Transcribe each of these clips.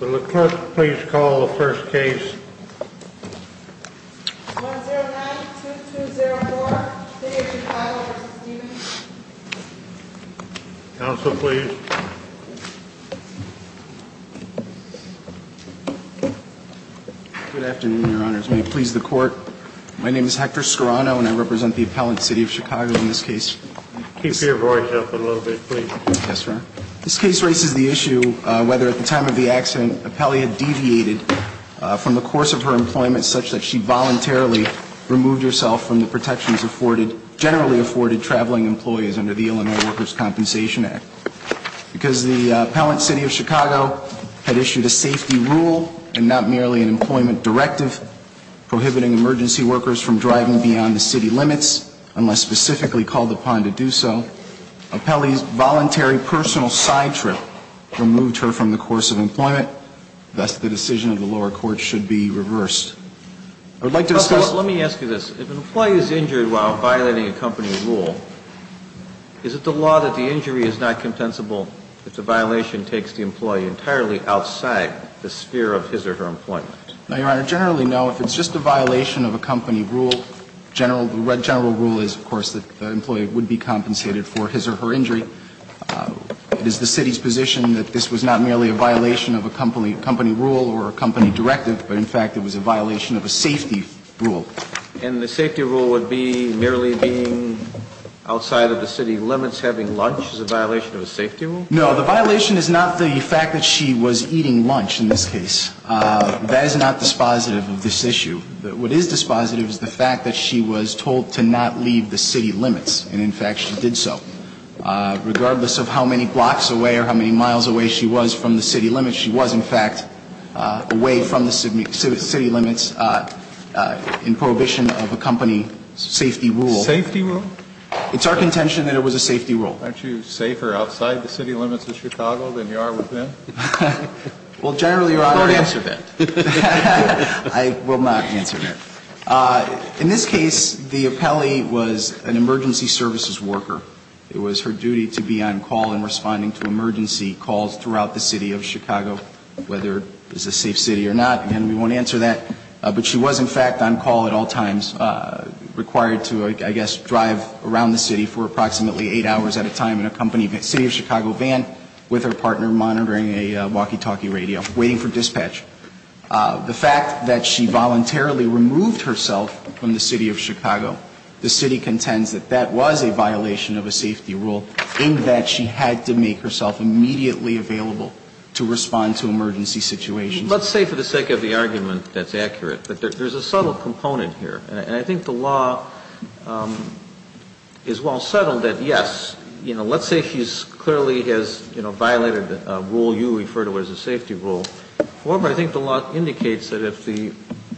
Will the court please call the first case? 109-2204, City of Chicago v. Stevens Counsel, please. Good afternoon, Your Honors. May it please the Court? My name is Hector Scarano and I represent the appellant, City of Chicago, in this case. Keep your voice up a little bit, please. Yes, sir. This case raises the issue whether at the time of the accident, Appellee had deviated from the course of her employment such that she voluntarily removed herself from the protections afforded generally afforded traveling employees under the Illinois Workers' Compensation Act. Because the appellant, City of Chicago, had issued a safety rule and not merely an employment directive prohibiting emergency workers from driving beyond the city limits unless specifically called upon to do so, Appellee's voluntary personal side trip removed her from the course of employment. Thus, the decision of the lower court should be reversed. I would like to discuss Counsel, let me ask you this. If an employee is injured while violating a company rule, is it the law that the injury is not compensable if the violation takes the employee entirely outside the sphere of his or her employment? No, Your Honor. Generally, no. If it's just a violation of a company rule, general rule is, of course, that the employee would be compensated for his or her injury. It is the city's position that this was not merely a violation of a company rule or a company directive, but in fact it was a violation of a safety rule. And the safety rule would be merely being outside of the city limits, having lunch, is a violation of a safety rule? No. The violation is not the fact that she was eating lunch in this case. That is not dispositive of this issue. What is dispositive is the fact that she was told to not leave the city limits, and in fact she did so. Regardless of how many blocks away or how many miles away she was from the city limits, she was, in fact, away from the city limits in prohibition of a company safety rule. Safety rule? It's our contention that it was a safety rule. Aren't you safer outside the city limits of Chicago than you are within? Well, generally, Your Honor, I would answer that. I will not answer that. In this case, the appellee was an emergency services worker. It was her duty to be on call and responding to emergency calls throughout the city of Chicago, whether it was a safe city or not. Again, we won't answer that. But she was, in fact, on call at all times, required to, I guess, drive around the city for approximately eight hours at a time in a company city of Chicago van with her partner monitoring a walkie-talkie radio, waiting for dispatch. The fact that she voluntarily removed herself from the city of Chicago, the city contends that that was a violation of a safety rule in that she had to make herself immediately available to respond to emergency situations. Let's say, for the sake of the argument that's accurate, that there's a subtle component here. And I think the law is well settled that, yes, you know, let's say she's clearly violated a rule you refer to as a safety rule. However, I think the law indicates that if the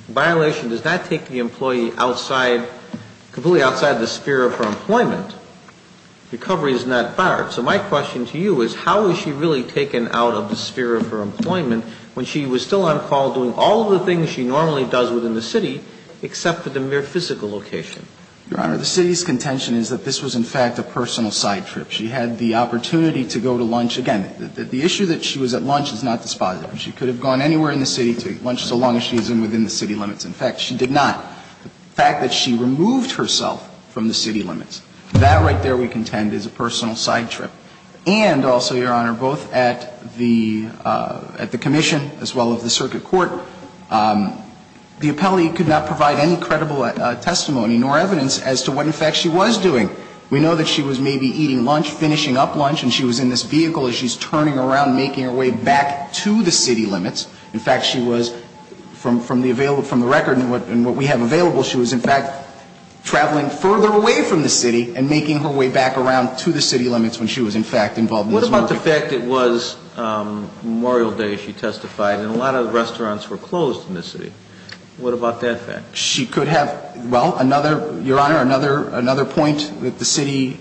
violation does not take the employee outside, completely outside the sphere of her employment, recovery is not barred. So my question to you is, how was she really taken out of the sphere of her employment when she was still on call doing all of the things she normally does within the city except at the mere physical location? Your Honor, the city's contention is that this was, in fact, a personal side trip. She had the opportunity to go to lunch. Again, the issue that she was at lunch is not dispositive. She could have gone anywhere in the city to lunch so long as she was within the city limits. In fact, she did not. The fact that she removed herself from the city limits, that right there we contend is a personal side trip. And also, Your Honor, both at the commission as well as the circuit court, the appellee could not provide any credible testimony nor evidence as to what, in fact, she was doing. We know that she was maybe eating lunch, finishing up lunch, and she was in this vehicle as she's turning around, making her way back to the city limits. In fact, she was, from the record and what we have available, she was, in fact, traveling further away from the city and making her way back around to the city limits when she was, in fact, involved in this market. What about the fact it was Memorial Day, she testified, and a lot of the restaurants were closed in this city? What about that fact? Well, Your Honor, another point that the city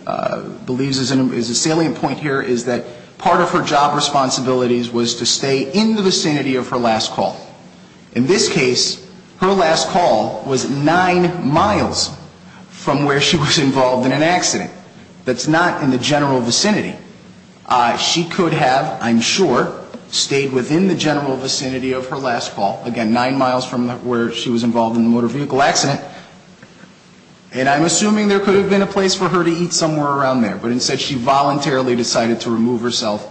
believes is a salient point here is that part of her job responsibilities was to stay in the vicinity of her last call. In this case, her last call was nine miles from where she was involved in an accident. That's not in the general vicinity. She could have, I'm sure, stayed within the general vicinity of her last call, again, nine miles from where she was involved in the motor vehicle accident, and I'm assuming there could have been a place for her to eat somewhere around there, but instead she voluntarily decided to remove herself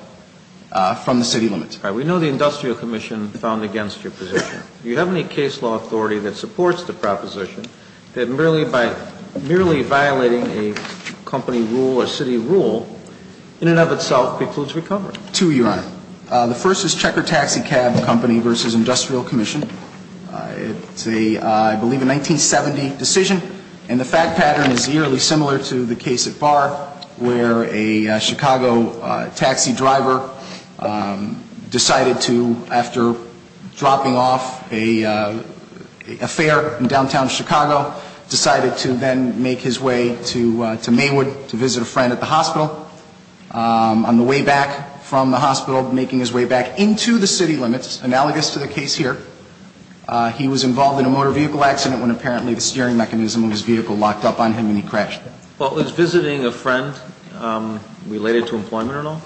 from the city limits. All right. We know the Industrial Commission found against your position. Do you have any case law authority that supports the proposition that merely by merely violating a company rule, a city rule, in and of itself precludes recovery? Two, Your Honor. The first is Checker Taxi Cab Company v. Industrial Commission. It's a, I believe, a 1970 decision, and the fact pattern is eerily similar to the case at Barr where a Chicago taxi driver decided to, after dropping off a fare in downtown Chicago, decided to then make his way to Maywood to visit a friend at the hospital. On the way back from the hospital, making his way back into the city limits, analogous to the case here, he was involved in a motor vehicle accident when apparently the steering mechanism of his vehicle locked up on him and he crashed. Well, is visiting a friend related to employment or not?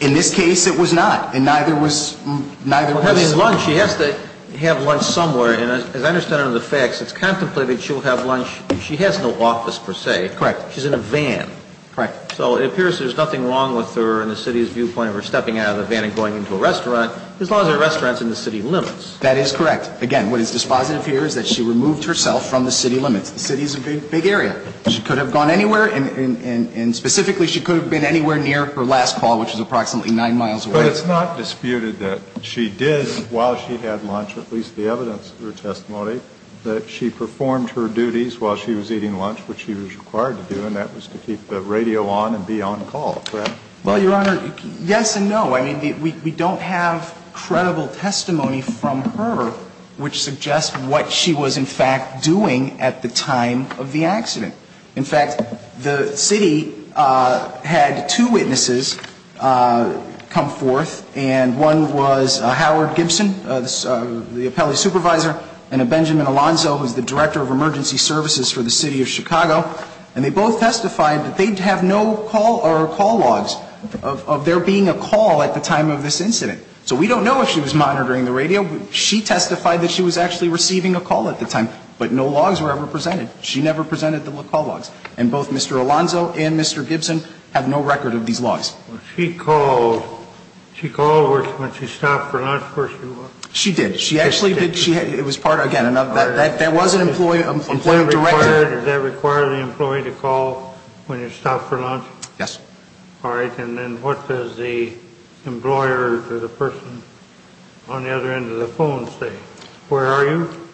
In this case, it was not, and neither was, neither was. Well, having lunch, she has to have lunch somewhere, and as I understand it in the facts, it's contemplated she'll have lunch. Correct. She's in a van. Correct. So it appears there's nothing wrong with her and the city's viewpoint of her stepping out of the van and going into a restaurant, as long as the restaurant's in the city limits. That is correct. Again, what is dispositive here is that she removed herself from the city limits. The city is a big, big area. She could have gone anywhere, and specifically, she could have been anywhere near her last call, which was approximately 9 miles away. But it's not disputed that she did, while she had lunch, at least the evidence of her testimony, that she performed her duties while she was eating lunch, which she was required to do, and that was to keep the radio on and be on call. Well, Your Honor, yes and no. I mean, we don't have credible testimony from her which suggests what she was in fact doing at the time of the accident. In fact, the city had two witnesses come forth, and one was Howard Gibson, the appellee supervisor, and Benjamin Alonzo, who's the director of emergency services for the city of Chicago. And they both testified that they have no call or call logs of there being a call at the time of this incident. So we don't know if she was monitoring the radio. She testified that she was actually receiving a call at the time, but no logs were ever presented. She never presented the call logs. And both Mr. Alonzo and Mr. Gibson have no record of these logs. Well, she called. She called when she stopped for lunch, of course she would. She did. She actually did. It was part of, again, there was an employee, an employee director. Does that require the employee to call when you stop for lunch? Yes. All right. And then what does the employer or the person on the other end of the phone say? Where are you?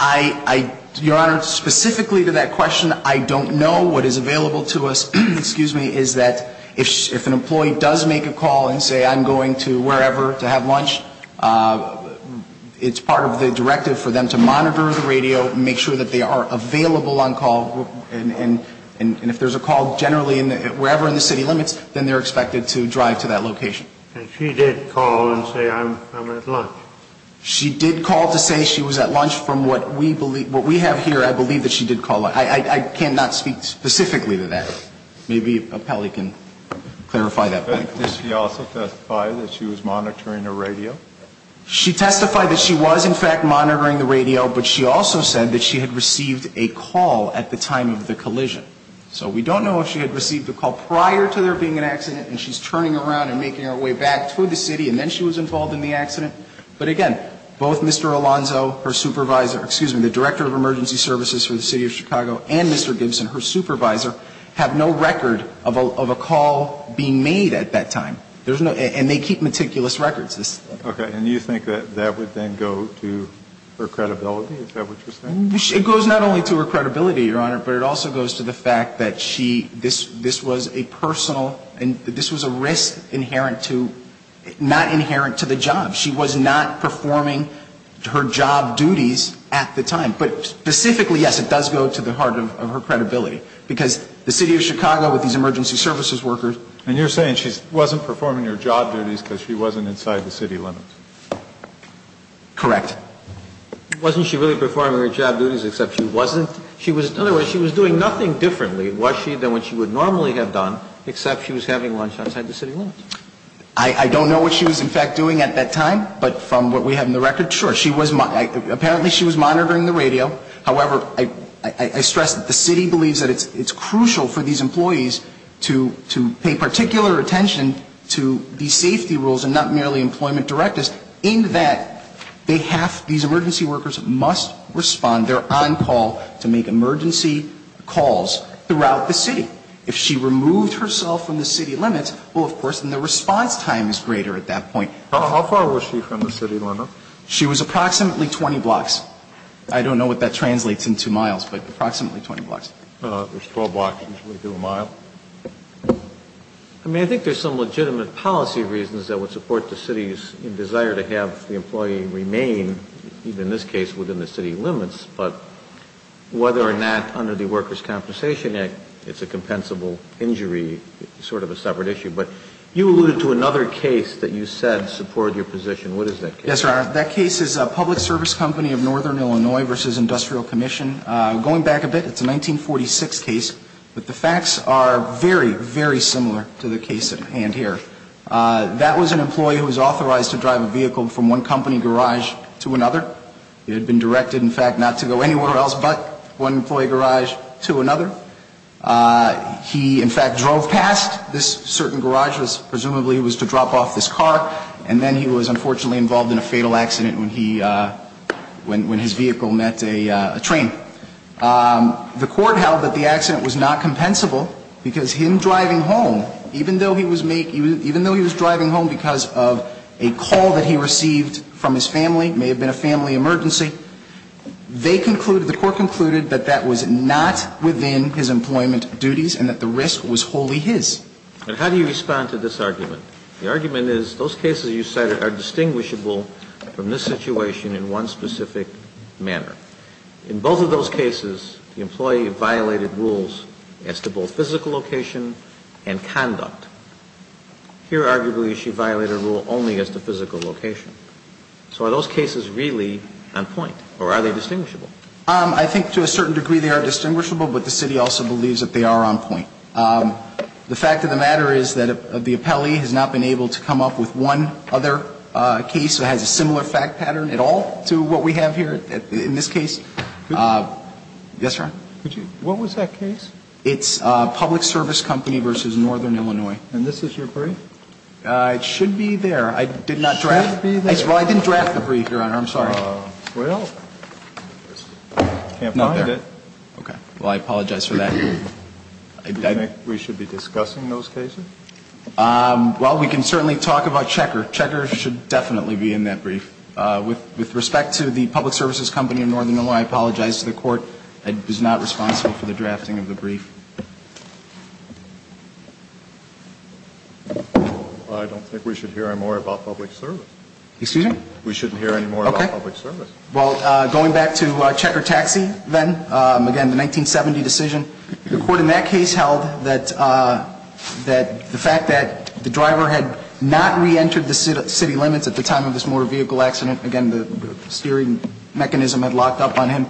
I, Your Honor, specifically to that question, I don't know. What is available to us, excuse me, is that if an employee does make a call and say, I'm going to wherever to have lunch, it's part of the directive for them to monitor the radio, make sure that they are available on call, and if there's a call generally wherever in the city limits, then they're expected to drive to that location. And she did call and say, I'm at lunch. She did call to say she was at lunch from what we believe, what we have here, I believe that she did call. I cannot speak specifically to that. Maybe Appelli can clarify that point. Did she also testify that she was monitoring the radio? She testified that she was, in fact, monitoring the radio, but she also said that she had received a call at the time of the collision. So we don't know if she had received a call prior to there being an accident and she's turning around and making her way back to the city and then she was involved in the accident. But again, both Mr. Alonzo, her supervisor, excuse me, the director of emergency services for the City of Chicago, and Mr. Gibson, her supervisor, have no record of a call being made at that time. And they keep meticulous records. Okay. And you think that that would then go to her credibility? Is that what you're saying? It goes not only to her credibility, Your Honor, but it also goes to the fact that she, this was a personal, this was a risk inherent to, not inherent to the job. She was not performing her job duties at the time. But specifically, yes, it does go to the heart of her credibility. Because the City of Chicago, with these emergency services workers. And you're saying she wasn't performing her job duties because she wasn't inside the city limits? Correct. Wasn't she really performing her job duties except she wasn't? In other words, she was doing nothing differently, was she, than what she would normally have done, except she was having lunch outside the city limits. I don't know what she was, in fact, doing at that time. But from what we have in the record, sure. Apparently she was monitoring the radio. However, I stress that the city believes that it's crucial for these employees to pay particular attention to these safety rules and not merely employment directives in that they have, these emergency workers must respond. They're on call to make emergency calls throughout the city. If she removed herself from the city limits, well, of course, then the response time is greater at that point. How far was she from the city limits? She was approximately 20 blocks. I don't know what that translates into miles, but approximately 20 blocks. There's 12 blocks, which would be a mile. I mean, I think there's some legitimate policy reasons that would support the city's desire to have the employee remain, even in this case, within the city limits. But whether or not, under the Workers' Compensation Act, it's a compensable injury is sort of a separate issue. But you alluded to another case that you said supported your position. What is that case? Yes, sir. That case is a public service company of Northern Illinois v. Industrial Commission. Going back a bit, it's a 1946 case. But the facts are very, very similar to the case at hand here. That was an employee who was authorized to drive a vehicle from one company garage to another. It had been directed, in fact, not to go anywhere else but one employee garage to another. He, in fact, drove past this certain garage, presumably it was to drop off this car. And then he was unfortunately involved in a fatal accident when his vehicle met a train. The court held that the accident was not compensable because him driving home, even though he was driving home because of a call that he received from his family, may have been a family emergency, they concluded, the court concluded, that that was not within his employment duties and that the risk was wholly his. And how do you respond to this argument? The argument is those cases you cited are distinguishable from this situation in one specific manner. In both of those cases, the employee violated rules as to both physical location and conduct. Here, arguably, she violated a rule only as to physical location. So are those cases really on point or are they distinguishable? I think to a certain degree they are distinguishable, but the city also believes that they are on point. The fact of the matter is that the appellee has not been able to come up with one other case that has a similar fact pattern at all to what we have here in this case. Yes, Your Honor? What was that case? It's Public Service Company v. Northern Illinois. And this is your brief? It should be there. I did not draft it. It should be there. Well, I didn't draft the brief, Your Honor. I'm sorry. Well, I can't find it. Okay. Well, I apologize for that. Do you think we should be discussing those cases? Well, we can certainly talk about Checker. Checker should definitely be in that brief. With respect to the Public Services Company of Northern Illinois, I apologize to the Court. I was not responsible for the drafting of the brief. I don't think we should hear any more about public service. Excuse me? We shouldn't hear any more about public service. Okay. Well, going back to Checker Taxi, then, again, the 1970 decision, the Court in that case held that the fact that the driver had not reentered the city limits at the time of this motor vehicle accident, again, the steering mechanism had locked up on him,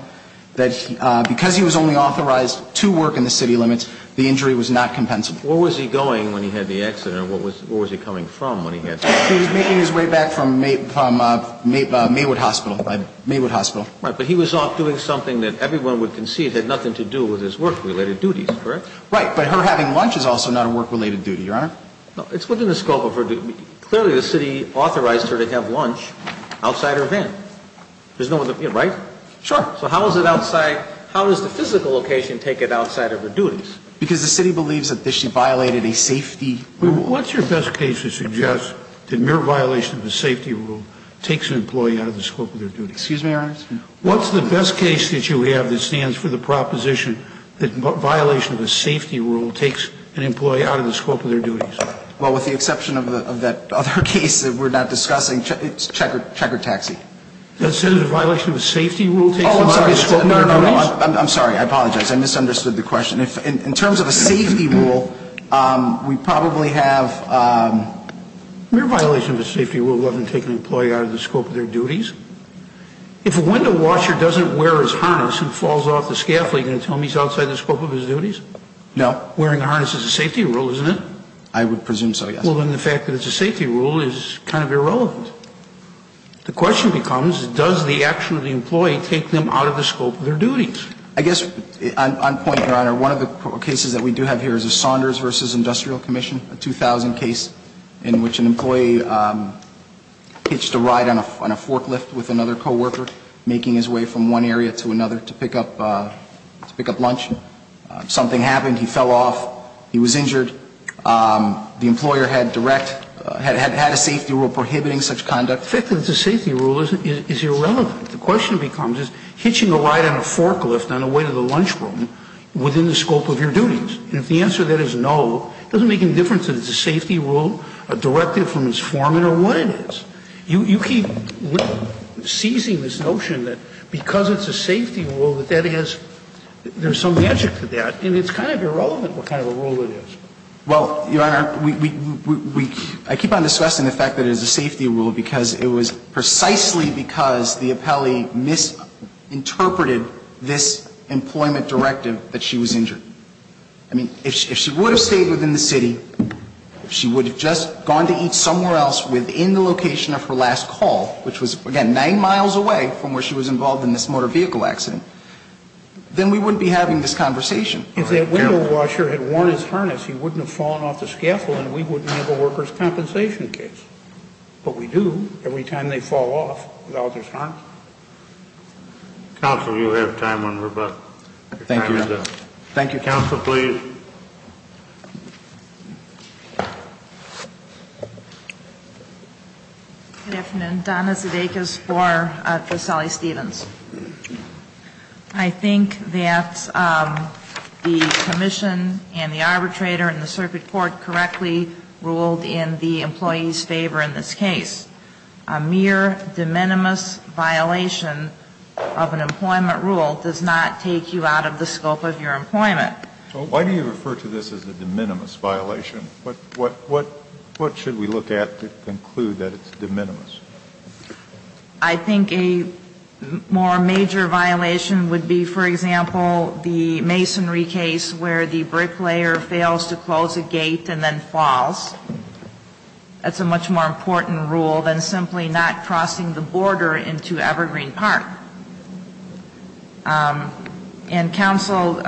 that because he was only authorized to work in the city limits, the injury was not compensable. Where was he going when he had the accident, or where was he coming from when he had the accident? He was making his way back from Maywood Hospital. Right. But he was off doing something that everyone would concede had nothing to do with his work-related duties, correct? Right. But her having lunch is also not a work-related duty, Your Honor. It's within the scope of her duties. Clearly, the city authorized her to have lunch outside her van. Right? Sure. So how is it outside? How does the physical location take it outside of her duties? Because the city believes that she violated a safety rule. What's your best case to suggest that mere violation of a safety rule takes an employee out of the scope of their duties? Excuse me, Your Honor? What's the best case that you have that stands for the proposition that violation of a safety rule takes an employee out of the scope of their duties? Well, with the exception of that other case that we're not discussing, it's check or taxi. Does it say that a violation of a safety rule takes an employee out of the scope of their duties? Oh, I'm sorry. I'm sorry. I apologize. I misunderstood the question. In terms of a safety rule, we probably have ‑‑ Mere violation of a safety rule doesn't take an employee out of the scope of their duties. If a window washer doesn't wear his harness and falls off the scaffold, are you going to tell him he's outside the scope of his duties? No. Wearing a harness is a safety rule, isn't it? I would presume so, yes. Well, then the fact that it's a safety rule is kind of irrelevant. The question becomes, does the action of the employee take them out of the scope of their duties? I guess on point, Your Honor, one of the cases that we do have here is a Saunders v. Industrial Commission, a 2000 case in which an employee hitched a ride on a forklift with another coworker, making his way from one area to another to pick up lunch. Something happened. He fell off. He was injured. The employer had direct ‑‑ had a safety rule prohibiting such conduct. The fact that it's a safety rule is irrelevant. The question becomes, is hitching a ride on a forklift on the way to the lunchroom within the scope of your duties? And if the answer to that is no, it doesn't make any difference if it's a safety rule, a directive from his foreman, or what it is. You keep seizing this notion that because it's a safety rule that that is ‑‑ there's some magic to that, and it's kind of irrelevant what kind of a rule it is. Well, Your Honor, we ‑‑ I keep on discussing the fact that it's a safety rule because it was precisely because the appellee misinterpreted this employment directive that she was injured. I mean, if she would have stayed within the city, if she would have just gone to eat somewhere else within the location of her last call, which was, again, nine miles away from where she was involved in this motor vehicle accident, then we wouldn't be having this conversation. If that window washer had worn his harness, he wouldn't have fallen off the scaffold, and we wouldn't have a workers' compensation case. But we do every time they fall off without his harness. Counsel, you have time on rebuttal. Thank you, Your Honor. Thank you, Counsel. Please. Good afternoon. Donna Sudeikis for Sally Stevens. I think that the commission and the arbitrator and the circuit court correctly ruled in the employee's favor in this case. A mere de minimis violation of an employment rule does not take you out of the scope of your employment. Why do you refer to this as a de minimis violation? What should we look at to conclude that it's de minimis? I think a more major violation would be, for example, the masonry case where the bricklayer fails to close a gate and then falls. That's a much more important rule than simply not crossing the border into Evergreen Park. And counsel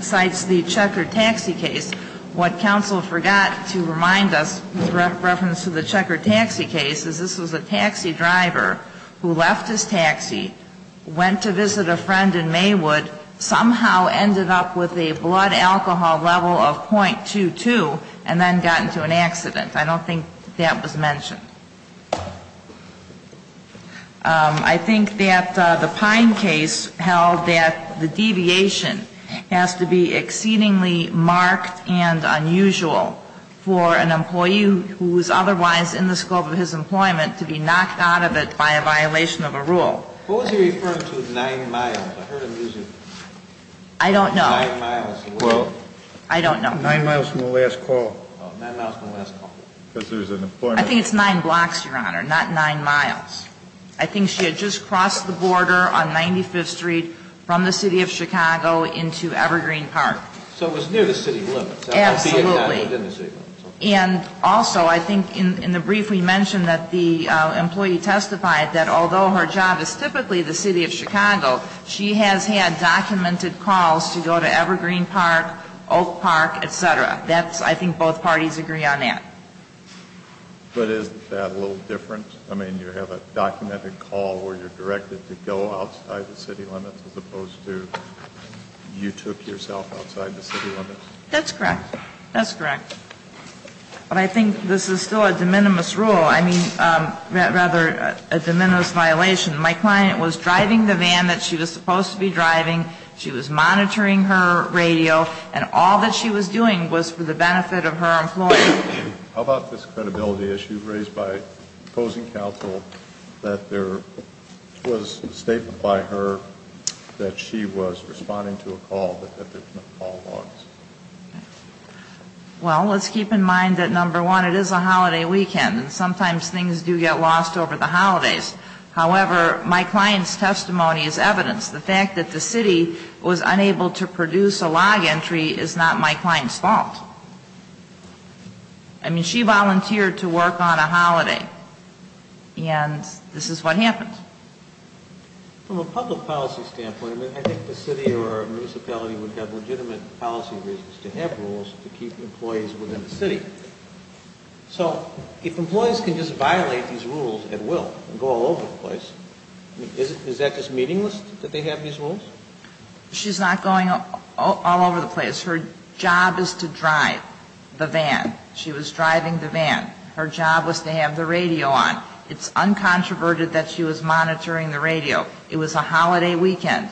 cites the Checker taxi case. What counsel forgot to remind us with reference to the Checker taxi case is this was a taxi driver who left his taxi, went to visit a friend in Maywood, somehow ended up with a blood alcohol level of .22 and then got into an accident. I don't think that was mentioned. I think that the Pine case held that the deviation has to be exceedingly marked and unusual for an employee who is otherwise in the scope of his employment to be knocked out of it by a violation of a rule. What was he referring to with nine miles? I heard him use it. I don't know. Well, I don't know. Nine miles from the last call. Nine miles from the last call. I think it's nine blocks, Your Honor, not nine miles. I think she had just crossed the border on 95th Street from the city of Chicago into Evergreen Park. So it was near the city limits. Absolutely. And also I think in the brief we mentioned that the employee testified that although her job is typically the city of Chicago, she has had documented calls to go to Evergreen Park, Oak Park, et cetera. I think both parties agree on that. But isn't that a little different? I mean, you have a documented call where you're directed to go outside the city limits as opposed to you took yourself outside the city limits? That's correct. That's correct. But I think this is still a de minimis rule. I mean, rather a de minimis violation. My client was driving the van that she was supposed to be driving. She was monitoring her radio. And all that she was doing was for the benefit of her employee. How about this credibility issue raised by opposing counsel that there was a statement by her that she was responding to a call that the call was? Well, let's keep in mind that, number one, it is a holiday weekend. And sometimes things do get lost over the holidays. However, my client's testimony is evidence. The fact that the city was unable to produce a log entry is not my client's fault. I mean, she volunteered to work on a holiday. And this is what happened. From a public policy standpoint, I think the city or a municipality would have legitimate policy reasons to have rules to keep employees within the city. So if employees can just violate these rules at will and go all over the place, is that just meaningless that they have these rules? She's not going all over the place. Her job is to drive the van. She was driving the van. Her job was to have the radio on. It's uncontroverted that she was monitoring the radio. It was a holiday weekend.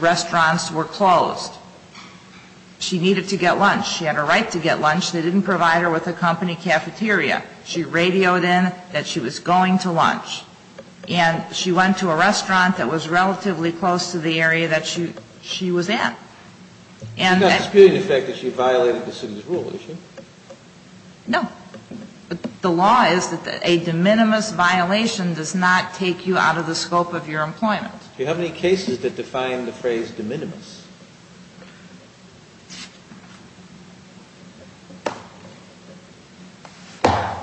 Restaurants were closed. She needed to get lunch. She had a right to get lunch. They didn't provide her with a company cafeteria. She radioed in that she was going to lunch. And she went to a restaurant that was relatively close to the area that she was at. She's not disputing the fact that she violated the city's rule, is she? No. The law is that a de minimis violation does not take you out of the scope of your employment. Do you have any cases that define the phrase de minimis?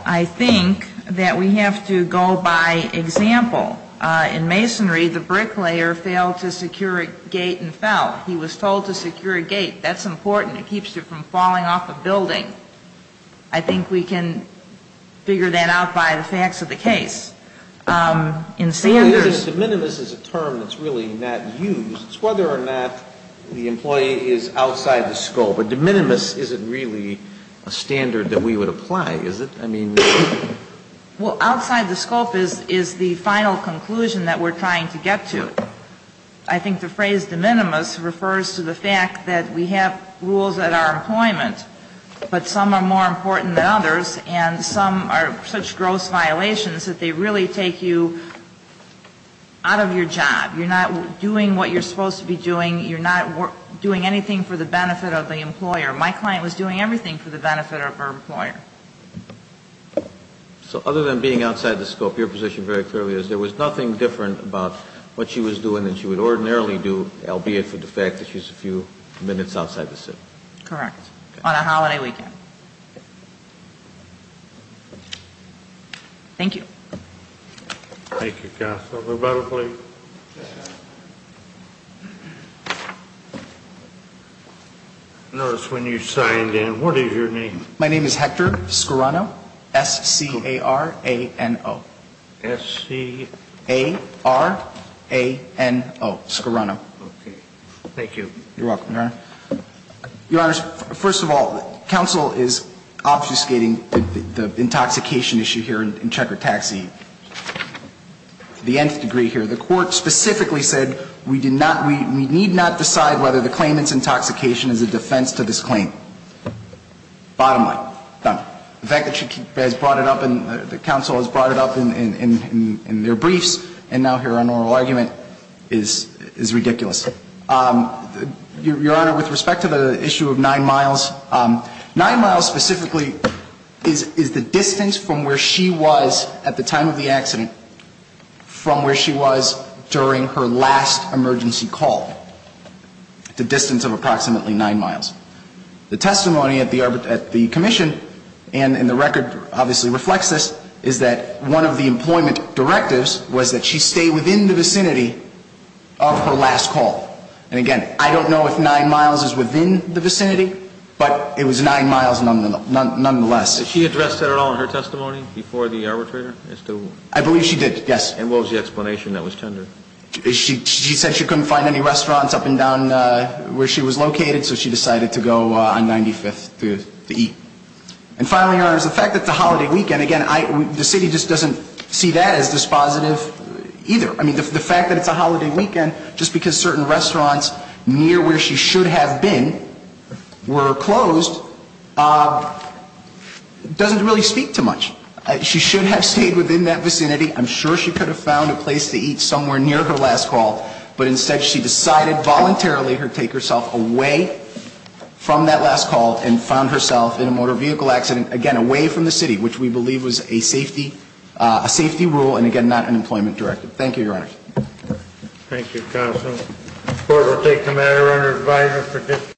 I think that we have to go by example. In masonry, the bricklayer failed to secure a gate and fell. He was told to secure a gate. That's important. It keeps you from falling off a building. I think we can figure that out by the facts of the case. De minimis is a term that's really not used. It's whether or not the employee is outside the scope. A de minimis isn't really a standard that we would apply, is it? I mean... Well, outside the scope is the final conclusion that we're trying to get to. I think the phrase de minimis refers to the fact that we have rules at our employment, but some are more important than others, and some are such gross violations that they really take you out of your job. You're not doing what you're supposed to be doing. You're not doing anything for the benefit of the employer. My client was doing everything for the benefit of her employer. So other than being outside the scope, your position very clearly is there was nothing different about what she was doing than she would ordinarily do, albeit for the fact that she was a few minutes outside the city. Correct. On a holiday weekend. Thank you. Thank you, counsel. Rebuttal, please. Notice when you signed in, what is your name? My name is Hector Scarano. S-C-A-R-A-N-O. S-C... A-R-A-N-O. Scarano. Okay. Thank you. You're welcome, Your Honor. Your Honor, first of all, counsel is obfuscating the intoxication issue here in Checker Taxi. The nth degree here. The Court specifically said we did not, we need not decide whether the claimant's intoxication is a defense to this claim. Bottom line. Done. The fact that she has brought it up and the counsel has brought it up in their briefs and now here on oral argument is ridiculous. Your Honor, with respect to the issue of nine miles, nine miles specifically is the distance from where she was at the time of the accident from where she was during her last emergency call. The distance of approximately nine miles. The testimony at the Commission and in the record obviously reflects this, is that one of the employment directives was that she stay within the vicinity of her last call. And again, I don't know if nine miles is within the vicinity, but it was nine miles nonetheless. Did she address that at all in her testimony before the arbitrator? I believe she did, yes. And what was the explanation that was tendered? She said she couldn't find any restaurants up and down where she was located, so she decided to go on 95th to eat. And finally, Your Honor, the fact that it's a holiday weekend, again, the city just doesn't see that as dispositive either. I mean, the fact that it's a holiday weekend just because certain restaurants near where she should have been were closed doesn't really speak to much. She should have stayed within that vicinity. I'm sure she could have found a place to eat somewhere near her last call, but instead she decided voluntarily to take herself away from that last call and found herself in a motor vehicle accident, again, away from the city, which we believe was a safety rule and, again, not an employment directive. Thank you, Your Honor. Thank you, counsel. The court will take the matter under advisory for discussion.